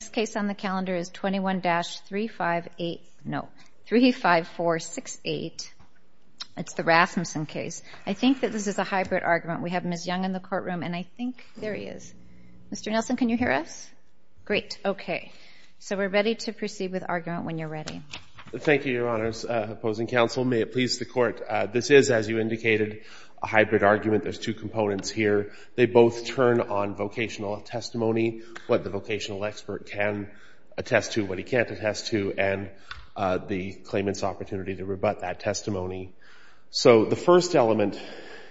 This case on the calendar is 21-358, no, 35468. It's the Rasmussen case. I think that this is a hybrid argument. We have Ms. Young in the courtroom, and I think there he is. Mr. Nelson, can you hear us? Great. Okay. So we're ready to proceed with argument when you're ready. Thank you, Your Honors. Opposing counsel, may it please the Court. This is, as you indicated, a hybrid argument. There's two components here. They both turn on vocational testimony, what the vocational expert can attest to, what he can't attest to, and the claimant's opportunity to rebut that testimony. So the first element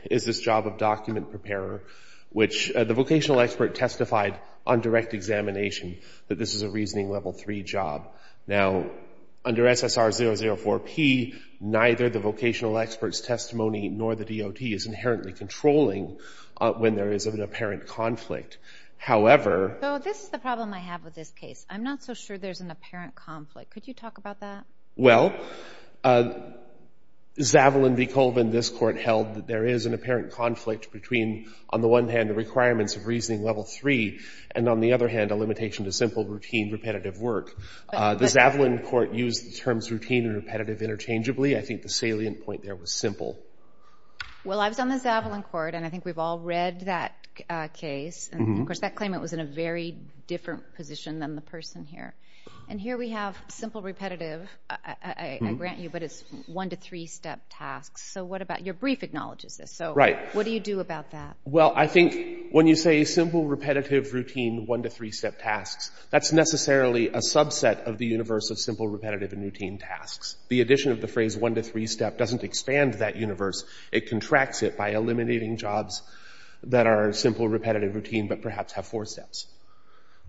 is this job of document preparer, which the vocational expert testified on direct examination that this is a reasoning level 3 job. Now, under SSR 004P, neither the vocational expert's testimony nor the DOT's is inherently controlling when there is an apparent conflict. However... So this is the problem I have with this case. I'm not so sure there's an apparent conflict. Could you talk about that? Well, Zavalin v. Colvin, this Court, held that there is an apparent conflict between, on the one hand, the requirements of reasoning level 3, and, on the other hand, a limitation to simple, routine, repetitive work. The Zavalin Court used the terms routine and repetitive interchangeably. I think the salient point there was simple. Well, I was on the Zavalin Court, and I think we've all read that case. And, of course, that claimant was in a very different position than the person here. And here we have simple, repetitive. I grant you, but it's one-to-three-step tasks. So what about your brief acknowledges this. So what do you do about that? Well, I think when you say simple, repetitive, routine, one-to-three-step tasks, that's necessarily a subset of the universe of simple, repetitive, and routine tasks. The addition of the phrase one-to-three-step doesn't expand that universe. It contracts it by eliminating jobs that are simple, repetitive, routine, but perhaps have four steps.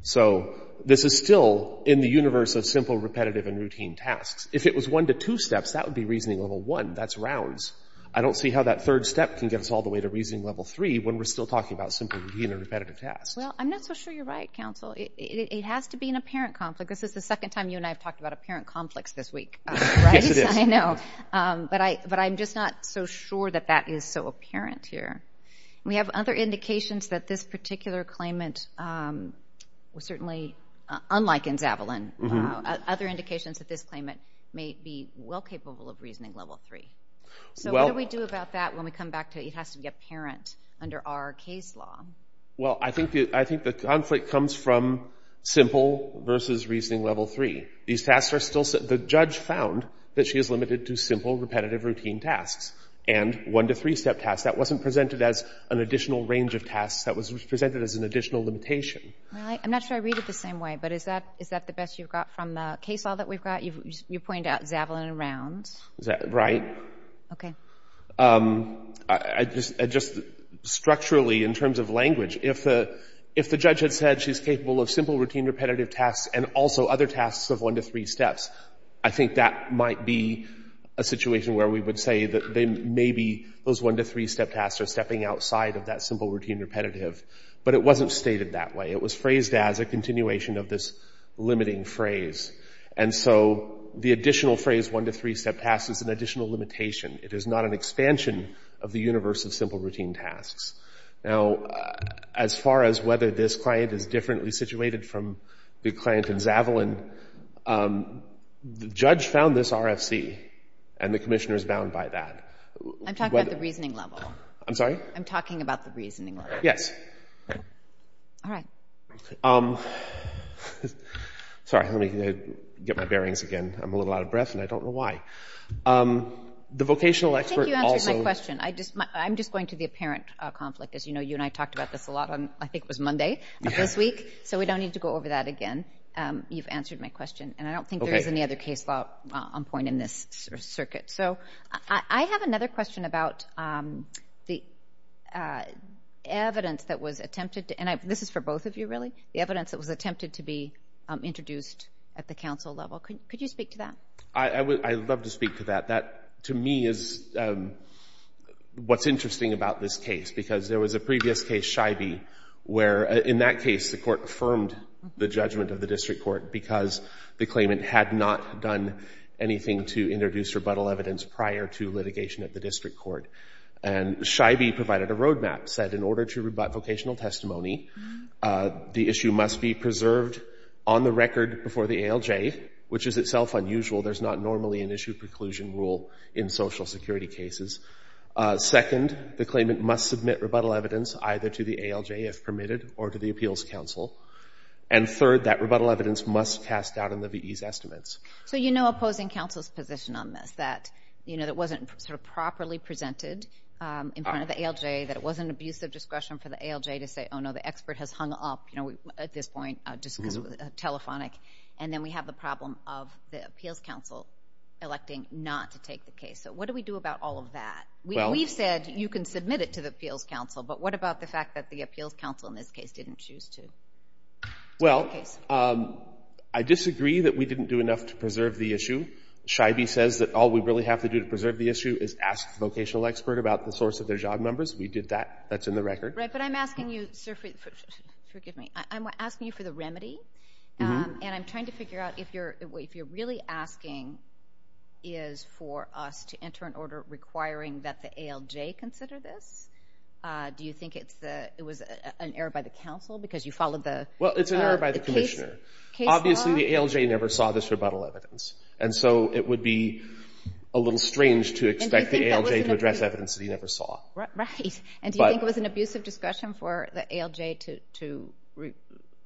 So this is still in the universe of simple, repetitive, and routine tasks. If it was one-to-two steps, that would be reasoning level 1. That's rounds. I don't see how that third step can get us all the way to reasoning level 3 when we're still talking about simple, routine, and repetitive tasks. Well, I'm not so sure you're right, counsel. It has to be an apparent conflict. This is the second time you and I have talked about apparent conflicts this week. Yes, it is. I know. But I'm just not so sure that that is so apparent here. We have other indications that this particular claimant, certainly unlike in Zavalin, other indications that this claimant may be well capable of reasoning level 3. So what do we do about that when we come back to it has to be apparent under our case law? Well, I think the conflict comes from simple versus reasoning level 3. The judge found that she is limited to simple, repetitive, routine tasks and one-to-three-step tasks. That wasn't presented as an additional range of tasks. That was presented as an additional limitation. I'm not sure I read it the same way, but is that the best you've got from the case law that we've got? You've pointed out Zavalin and rounds. Right. Okay. Structurally, in terms of language, if the judge had said she's capable of simple, routine, repetitive tasks and also other tasks of one-to-three steps, I think that might be a situation where we would say that maybe those one-to-three-step tasks are stepping outside of that simple, routine, repetitive. But it wasn't stated that way. It was phrased as a continuation of this limiting phrase. And so the additional phrase, one-to-three-step tasks, is an additional limitation. It is not an expansion of the universe of simple, routine tasks. Now, as far as whether this client is differently situated from the client in Zavalin, the judge found this RFC, and the commissioner is bound by that. I'm talking about the reasoning level. I'm sorry? I'm talking about the reasoning level. Yes. All right. Sorry, let me get my bearings again. I'm a little out of breath, and I don't know why. The vocational expert also— I think you answered my question. I'm just going to the apparent conflict. As you know, you and I talked about this a lot on—I think it was Monday of this week. So we don't need to go over that again. You've answered my question, and I don't think there is any other case law on point in this circuit. So I have another question about the evidence that was attempted— and this is for both of you, really—the evidence that was attempted to be introduced at the council level. Could you speak to that? I would love to speak to that. That, to me, is what's interesting about this case because there was a previous case, Scheibe, where in that case the court affirmed the judgment of the district court because the claimant had not done anything to introduce rebuttal evidence prior to litigation at the district court. And Scheibe provided a roadmap, said in order to rebut vocational testimony, the issue must be preserved on the record before the ALJ, which is itself unusual. There's not normally an issue preclusion rule in Social Security cases. Second, the claimant must submit rebuttal evidence either to the ALJ, if permitted, or to the Appeals Council. And third, that rebuttal evidence must cast doubt in the V.E.'s estimates. So you know opposing counsel's position on this, that it wasn't sort of properly presented in front of the ALJ, that it wasn't an abuse of discretion for the ALJ to say, oh, no, the expert has hung up at this point, telephonic, and then we have the problem of the Appeals Council electing not to take the case. So what do we do about all of that? We've said you can submit it to the Appeals Council, but what about the fact that the Appeals Council in this case didn't choose to take the case? Well, I disagree that we didn't do enough to preserve the issue. Scheibe says that all we really have to do to preserve the issue is ask the vocational expert about the source of their job numbers. We did that. That's in the record. Right, but I'm asking you, sir, forgive me, I'm asking you for the remedy, and I'm trying to figure out if you're really asking is for us to enter an order requiring that the ALJ consider this. Do you think it was an error by the counsel because you followed the case law? Well, it's an error by the commissioner. Obviously, the ALJ never saw this rebuttal evidence, and so it would be a little strange to expect the ALJ to address evidence that he never saw. Right, and do you think it was an abusive discussion for the ALJ to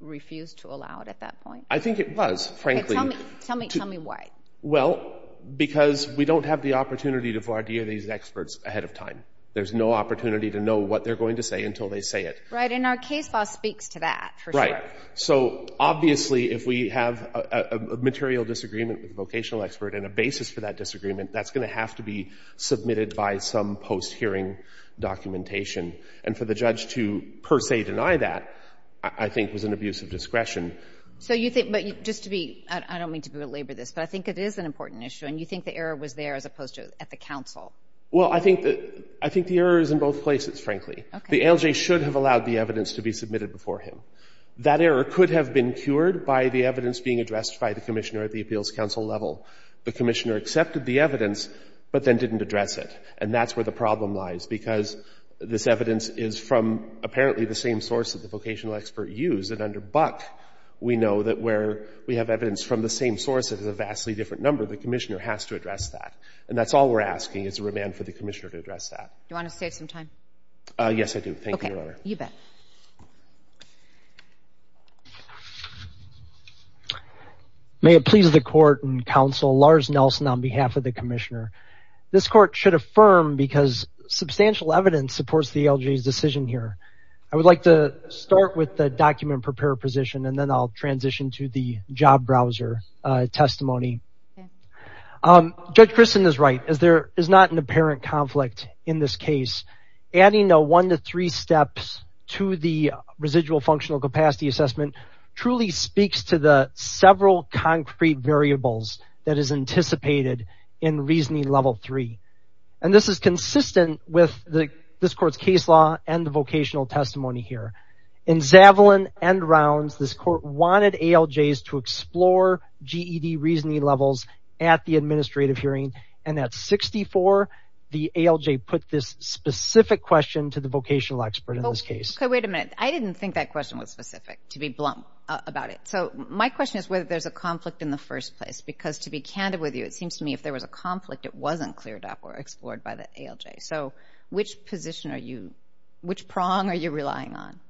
refuse to allow it at that point? I think it was, frankly. Tell me why. Well, because we don't have the opportunity to voir dire these experts ahead of time. There's no opportunity to know what they're going to say until they say it. Right, and our case law speaks to that, for sure. Right, so obviously if we have a material disagreement with the vocational expert and a basis for that disagreement, that's going to have to be submitted by some post-hearing documentation. And for the judge to per se deny that, I think, was an abusive discretion. So you think, but just to be, I don't mean to belabor this, but I think it is an important issue, and you think the error was there as opposed to at the counsel? Well, I think the error is in both places, frankly. Okay. The ALJ should have allowed the evidence to be submitted before him. That error could have been cured by the evidence being addressed by the commissioner at the appeals counsel level. The commissioner accepted the evidence, but then didn't address it. And that's where the problem lies, because this evidence is from apparently the same source that the vocational expert used. And under Buck, we know that where we have evidence from the same source, it is a vastly different number. The commissioner has to address that. And that's all we're asking is a remand for the commissioner to address that. Do you want to save some time? Yes, I do. Thank you, Your Honor. Okay. You bet. Thank you. May it please the court and counsel, Lars Nelson on behalf of the commissioner. This court should affirm because substantial evidence supports the ALJ's decision here. I would like to start with the document prepare position, and then I'll transition to the job browser testimony. Judge Christin is right. There is not an apparent conflict in this case. Adding a one to three steps to the residual functional capacity assessment truly speaks to the several concrete variables that is anticipated in reasoning level three. And this is consistent with this court's case law and the vocational testimony here. In Zavalin and Rounds, this court wanted ALJs to explore GED reasoning levels at the administrative hearing. And at 64, the ALJ put this specific question to the vocational expert in this case. Wait a minute. I didn't think that question was specific, to be blunt about it. So my question is whether there's a conflict in the first place, because to be candid with you, it seems to me if there was a conflict, it wasn't cleared up or explored by the ALJ. So which position are you – which prong are you relying on?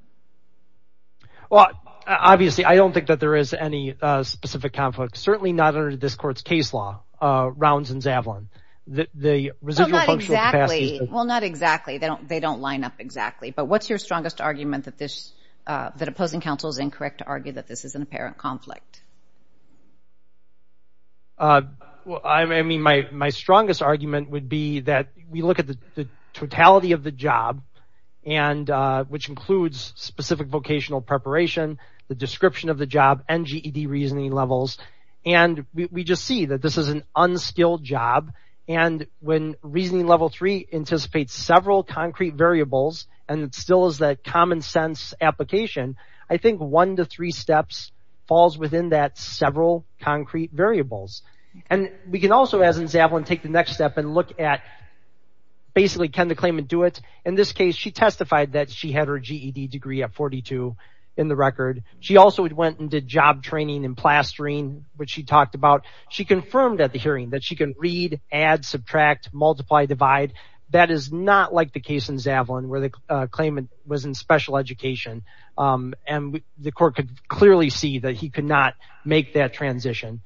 Well, obviously, I don't think that there is any specific conflict, certainly not under this court's case law, Rounds and Zavalin. Well, not exactly. They don't line up exactly. But what's your strongest argument that opposing counsel is incorrect to argue that this is an apparent conflict? I mean, my strongest argument would be that we look at the totality of the job, which includes specific vocational preparation, the description of the job, and GED reasoning levels, and we just see that this is an unskilled job. And when Reasoning Level 3 anticipates several concrete variables, and it still is that common sense application, I think one to three steps falls within that several concrete variables. And we can also, as in Zavalin, take the next step and look at basically can the claimant do it? In this case, she testified that she had her GED degree at 42 in the record. She also went and did job training and plastering, which she talked about. She confirmed at the hearing that she can read, add, subtract, multiply, divide. That is not like the case in Zavalin where the claimant was in special education, and the court could clearly see that he could not make that transition.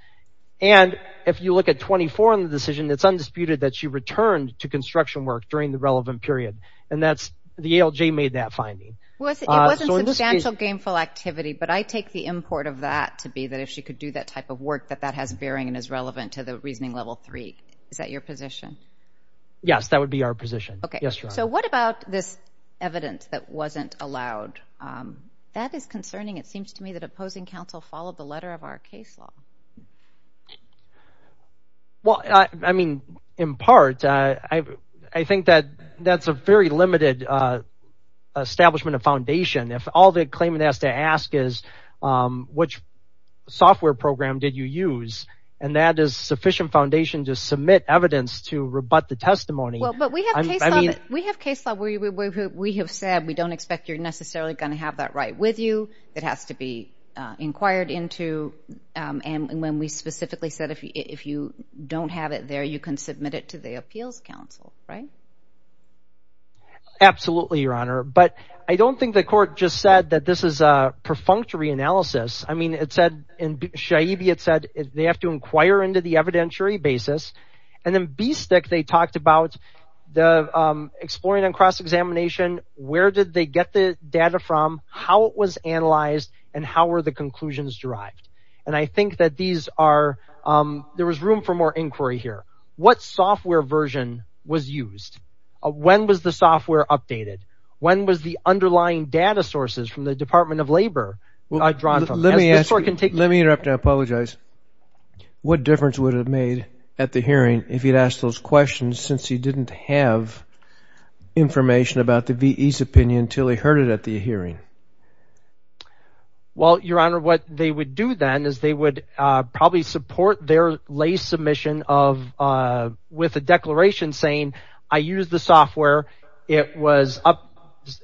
And if you look at 24 in the decision, it's undisputed that she returned to construction work during the relevant period, and the ALJ made that finding. It wasn't substantial gainful activity, but I take the import of that to be that if she could do that type of work, that that has bearing and is relevant to the Reasoning Level 3. Is that your position? Yes, that would be our position. So what about this evidence that wasn't allowed? That is concerning. It seems to me that opposing counsel followed the letter of our case law. Well, I mean, in part, I think that that's a very limited establishment of foundation. If all the claimant has to ask is which software program did you use, and that is sufficient foundation to submit evidence to rebut the testimony. Well, but we have case law where we have said we don't expect you're necessarily going to have that right with you. It has to be inquired into, and when we specifically said if you don't have it there, you can submit it to the appeals counsel, right? Absolutely, Your Honor. But I don't think the court just said that this is a perfunctory analysis. I mean, it said in Shaibi, it said they have to inquire into the evidentiary basis. And in BSTIC, they talked about the exploring and cross-examination, where did they get the data from, how it was analyzed, and how were the conclusions derived. And I think that these are – there was room for more inquiry here. What software version was used? When was the software updated? When was the underlying data sources from the Department of Labor drawn from? Let me ask you – let me interrupt and apologize. What difference would it have made at the hearing if you'd asked those questions since you didn't have information about the V.E.'s opinion until he heard it at the hearing? Well, Your Honor, what they would do then is they would probably support their lay submission of – with a declaration saying, I used the software. It was up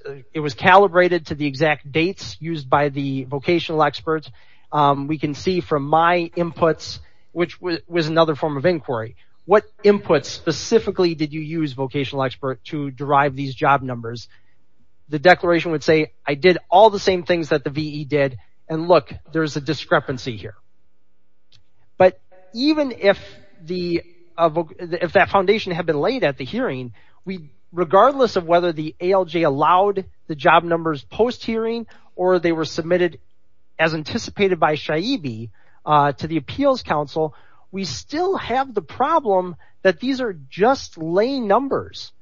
– it was calibrated to the exact dates used by the vocational experts. We can see from my inputs, which was another form of inquiry. What inputs specifically did you use, vocational expert, to derive these job numbers? The declaration would say, I did all the same things that the V.E. did, and look, there's a discrepancy here. But even if the – if that foundation had been laid at the hearing, regardless of whether the ALJ allowed the job numbers post-hearing or they were submitted as anticipated by Shaibi to the Appeals Council, we still have the problem that these are just lay numbers.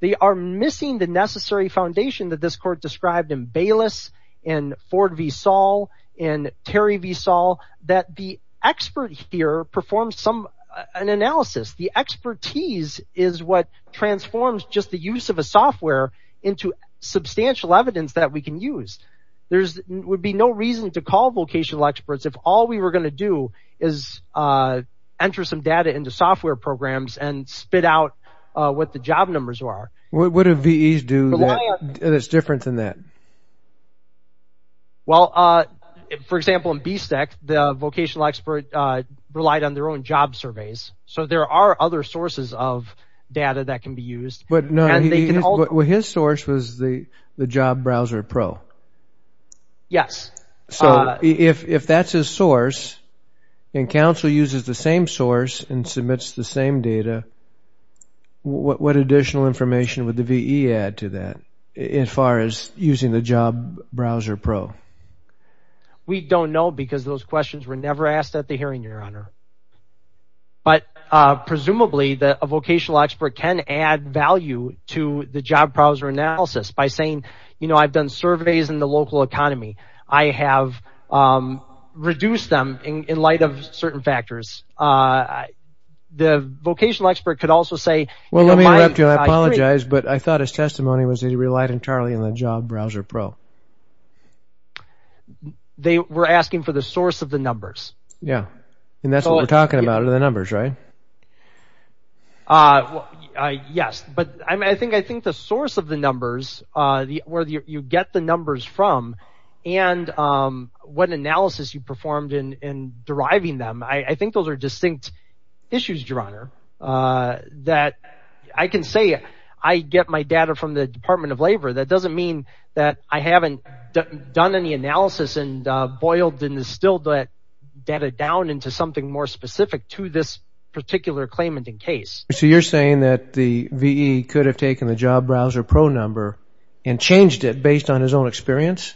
They are missing the necessary foundation that this Court described in Bayless, in Ford v. Saul, in Terry v. Saul, that the expert here performs some – an analysis. The expertise is what transforms just the use of a software into substantial evidence that we can use. There would be no reason to call vocational experts if all we were going to do is enter some data into software programs and spit out what the job numbers are. What do V.E.s do that's different than that? Well, for example, in BSTEC, the vocational expert relied on their own job surveys. So there are other sources of data that can be used. But no, his source was the Job Browser Pro. Yes. So if that's his source and counsel uses the same source and submits the same data, what additional information would the V.E. add to that as far as using the Job Browser Pro? We don't know because those questions were never asked at the hearing, Your Honor. But presumably, a vocational expert can add value to the Job Browser Analysis by saying, you know, I've done surveys in the local economy. I have reduced them in light of certain factors. The vocational expert could also say, you know, my – Well, let me interrupt you. I apologize, but I thought his testimony was that he relied entirely on the Job Browser Pro. They were asking for the source of the numbers. Yeah, and that's what we're talking about are the numbers, right? Yes. But I think the source of the numbers, where you get the numbers from, and what analysis you performed in deriving them, I think those are distinct issues, Your Honor, that I can say I get my data from the Department of Labor. That doesn't mean that I haven't done any analysis and boiled and distilled that data down into something more specific to this particular claimant in case. So you're saying that the V.E. could have taken the Job Browser Pro number and changed it based on his own experience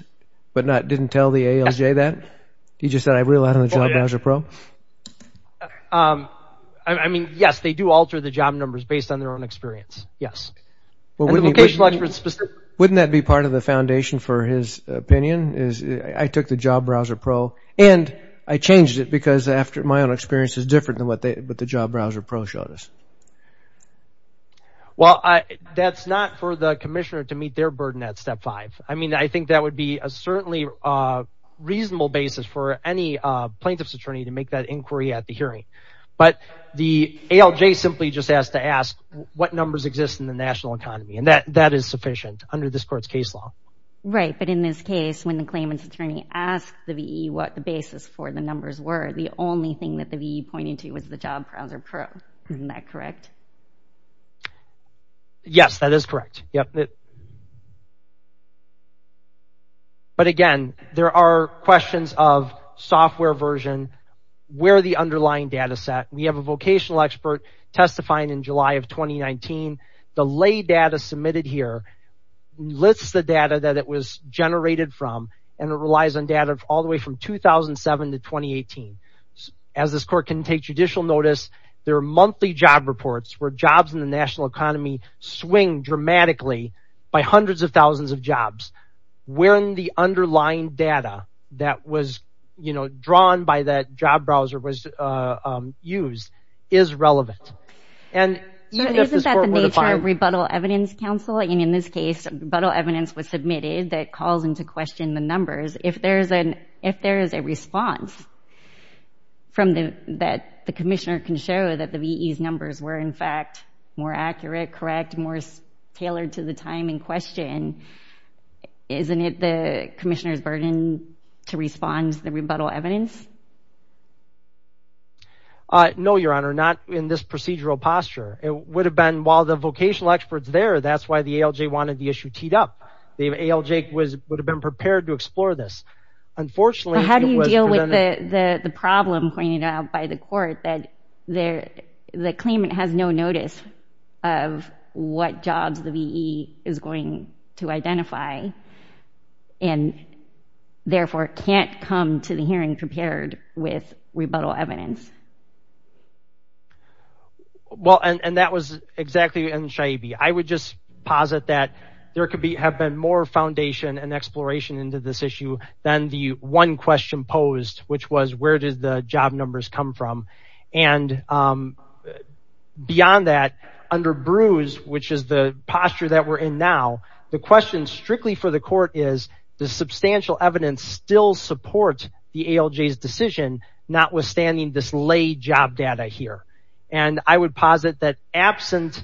but didn't tell the ALJ that? He just said, I rely on the Job Browser Pro? I mean, yes, they do alter the job numbers based on their own experience, yes. And the vocational expert specifically. Wouldn't that be part of the foundation for his opinion is, I took the Job Browser Pro and I changed it because my own experience is different than what the Job Browser Pro showed us. Well, that's not for the commissioner to meet their burden at step five. I mean, I think that would be a certainly reasonable basis for any plaintiff's attorney to make that inquiry at the hearing. But the ALJ simply just asked to ask what numbers exist in the national economy, and that is sufficient under this court's case law. Right, but in this case, when the claimant's attorney asked the V.E. what the basis for the numbers were, the only thing that the V.E. pointed to was the Job Browser Pro. Isn't that correct? Yes, that is correct. But again, there are questions of software version, where the underlying data set. We have a vocational expert testifying in July of 2019. The lay data submitted here lists the data that it was generated from, and it relies on data all the way from 2007 to 2018. As this court can take judicial notice, there are monthly job reports where jobs in the national economy swing dramatically by hundreds of thousands of jobs. When the underlying data that was, you know, drawn by that Job Browser was used is relevant. Isn't that the nature of rebuttal evidence, counsel? In this case, rebuttal evidence was submitted that calls into question the numbers. If there is a response that the commissioner can show that the V.E.'s numbers were in fact more accurate, correct, more tailored to the time in question, isn't it the commissioner's burden to respond to the rebuttal evidence? No, Your Honor, not in this procedural posture. It would have been while the vocational expert's there, that's why the ALJ wanted the issue teed up. The ALJ would have been prepared to explore this. Unfortunately, it was presented... How do you deal with the problem pointed out by the court that the claimant has no notice of what jobs the V.E. is going to identify, and therefore can't come to the hearing prepared with rebuttal evidence? Well, and that was exactly... I would just posit that there could have been more foundation and exploration into this issue than the one question posed, which was, where did the job numbers come from? And beyond that, under Bruce, which is the posture that we're in now, the question strictly for the court is, does substantial evidence still support the ALJ's decision, notwithstanding this lay job data here? And I would posit that absent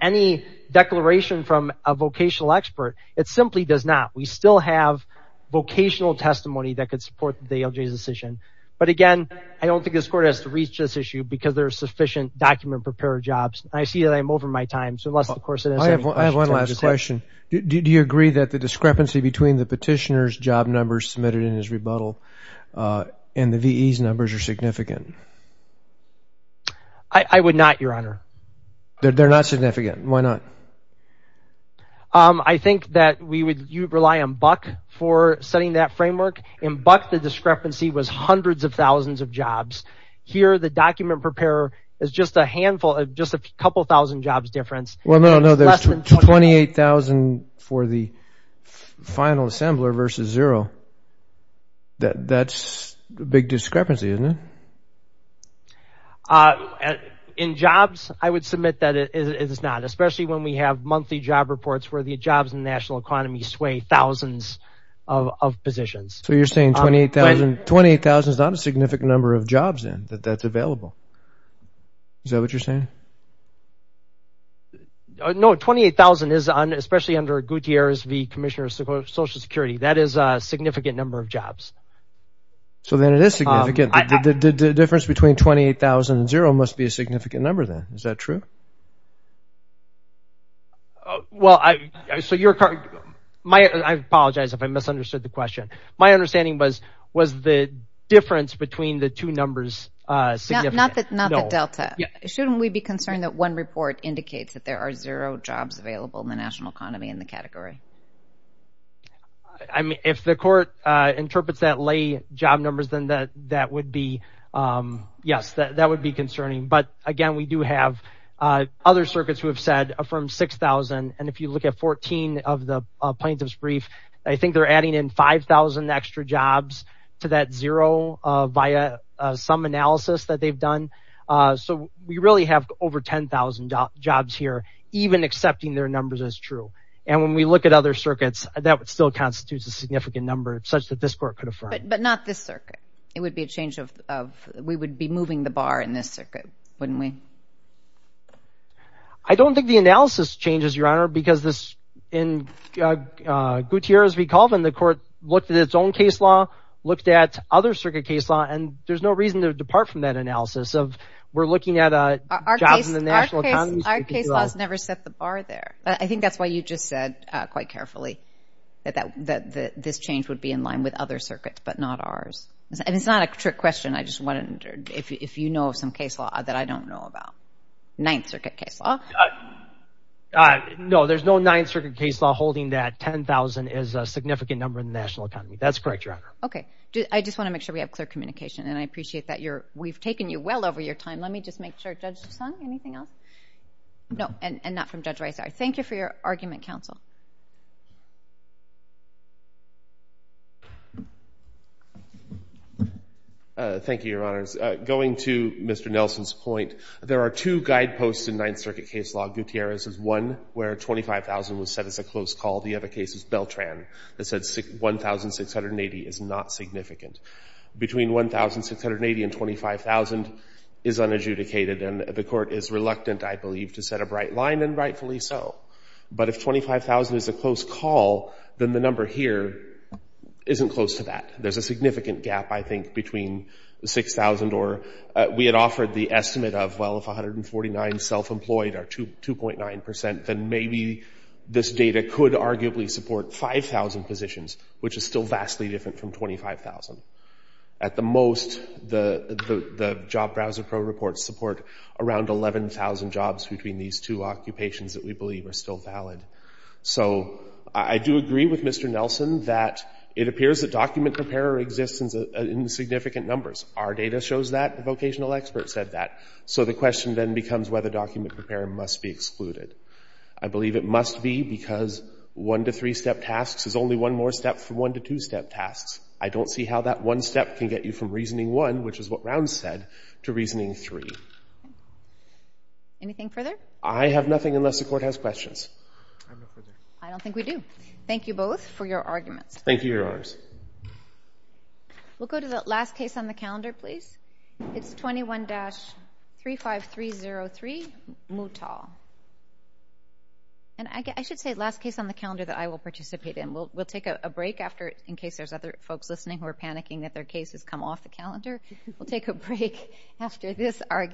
any declaration from a vocational expert, it simply does not. We still have vocational testimony that could support the ALJ's decision. But again, I don't think this court has to reach this issue because there are sufficient document-prepared jobs. I see that I'm over my time, so unless, of course... I have one last question. Do you agree that the discrepancy between the petitioner's job numbers submitted in his rebuttal and the V.E.'s numbers are significant? I would not, Your Honor. They're not significant. Why not? I think that we would rely on Buck for setting that framework, and Buck, the discrepancy was hundreds of thousands of jobs. Here, the document-preparer is just a handful, just a couple thousand jobs difference. Well, no, there's 28,000 for the final assembler versus zero. That's a big discrepancy, isn't it? In jobs, I would submit that it is not, especially when we have monthly job reports where the jobs in the national economy sway thousands of positions. So you're saying 28,000 is not a significant number of jobs then that that's available? Is that what you're saying? No, 28,000 is, especially under Gutierrez v. Commissioner of Social Security, that is a significant number of jobs. So then it is significant. The difference between 28,000 and zero must be a significant number then. Is that true? Well, I apologize if I misunderstood the question. My understanding was, was the difference between the two numbers significant? Not the delta. Shouldn't we be concerned that one report indicates that there are zero jobs available in the national economy in the category? If the court interprets that lay job numbers, then that would be, yes, that would be concerning. But, again, we do have other circuits who have said from 6,000, and if you look at 14 of the plaintiff's brief, I think they're adding in 5,000 extra jobs to that zero via some analysis that they've done. So we really have over 10,000 jobs here, even accepting their numbers as true. And when we look at other circuits, that still constitutes a significant number, such that this court could affirm. But not this circuit. It would be a change of, we would be moving the bar in this circuit, wouldn't we? I don't think the analysis changes, Your Honor, because this, in Gutierrez v. Colvin, the court looked at its own case law, looked at other circuit case law, and there's no reason to depart from that analysis of we're looking at jobs in the national economy. Our case laws never set the bar there. I think that's why you just said, quite carefully, that this change would be in line with other circuits, but not ours. It's not a trick question. I just wondered if you know of some case law that I don't know about. Ninth circuit case law. No, there's no ninth circuit case law holding that 10,000 is a significant number in the national economy. That's correct, Your Honor. Okay. I just want to make sure we have clear communication, and I appreciate that. We've taken you well over your time. Let me just make sure Judge Sung, anything else? No, and not from Judge Reiser. Thank you for your argument, counsel. Thank you, Your Honors. Going to Mr. Nelson's point, there are two guideposts in ninth circuit case law. Gutierrez is one where 25,000 was set as a close call. The other case is Beltran that said 1,680 is not significant. Between 1,680 and 25,000 is unadjudicated, and the court is reluctant, I believe, to set a bright line, and rightfully so. But if 25,000 is a close call, then the number here isn't close to that. There's a significant gap, I think, between 6,000 or we had offered the estimate of, well, if 149 self-employed are 2.9%, then maybe this data could arguably support 5,000 positions, which is still vastly different from 25,000. At the most, the Job Browser Pro reports support around 11,000 jobs between these two occupations that we believe are still valid. So I do agree with Mr. Nelson that it appears that document preparer exists in significant numbers. Our data shows that. The vocational expert said that. So the question then becomes whether document preparer must be excluded. I believe it must be because one-to-three-step tasks is only one more step from one-to-two-step tasks. I don't see how that one step can get you from Reasoning 1, which is what Rounds said, to Reasoning 3. Anything further? I have nothing unless the court has questions. I don't think we do. Thank you both for your arguments. Thank you, Your Honors. We'll go to the last case on the calendar, please. It's 21-35303, Moutal. And I should say last case on the calendar that I will participate in. We'll take a break after, in case there's other folks listening who are panicking that their case has come off the calendar, we'll take a break after this argument.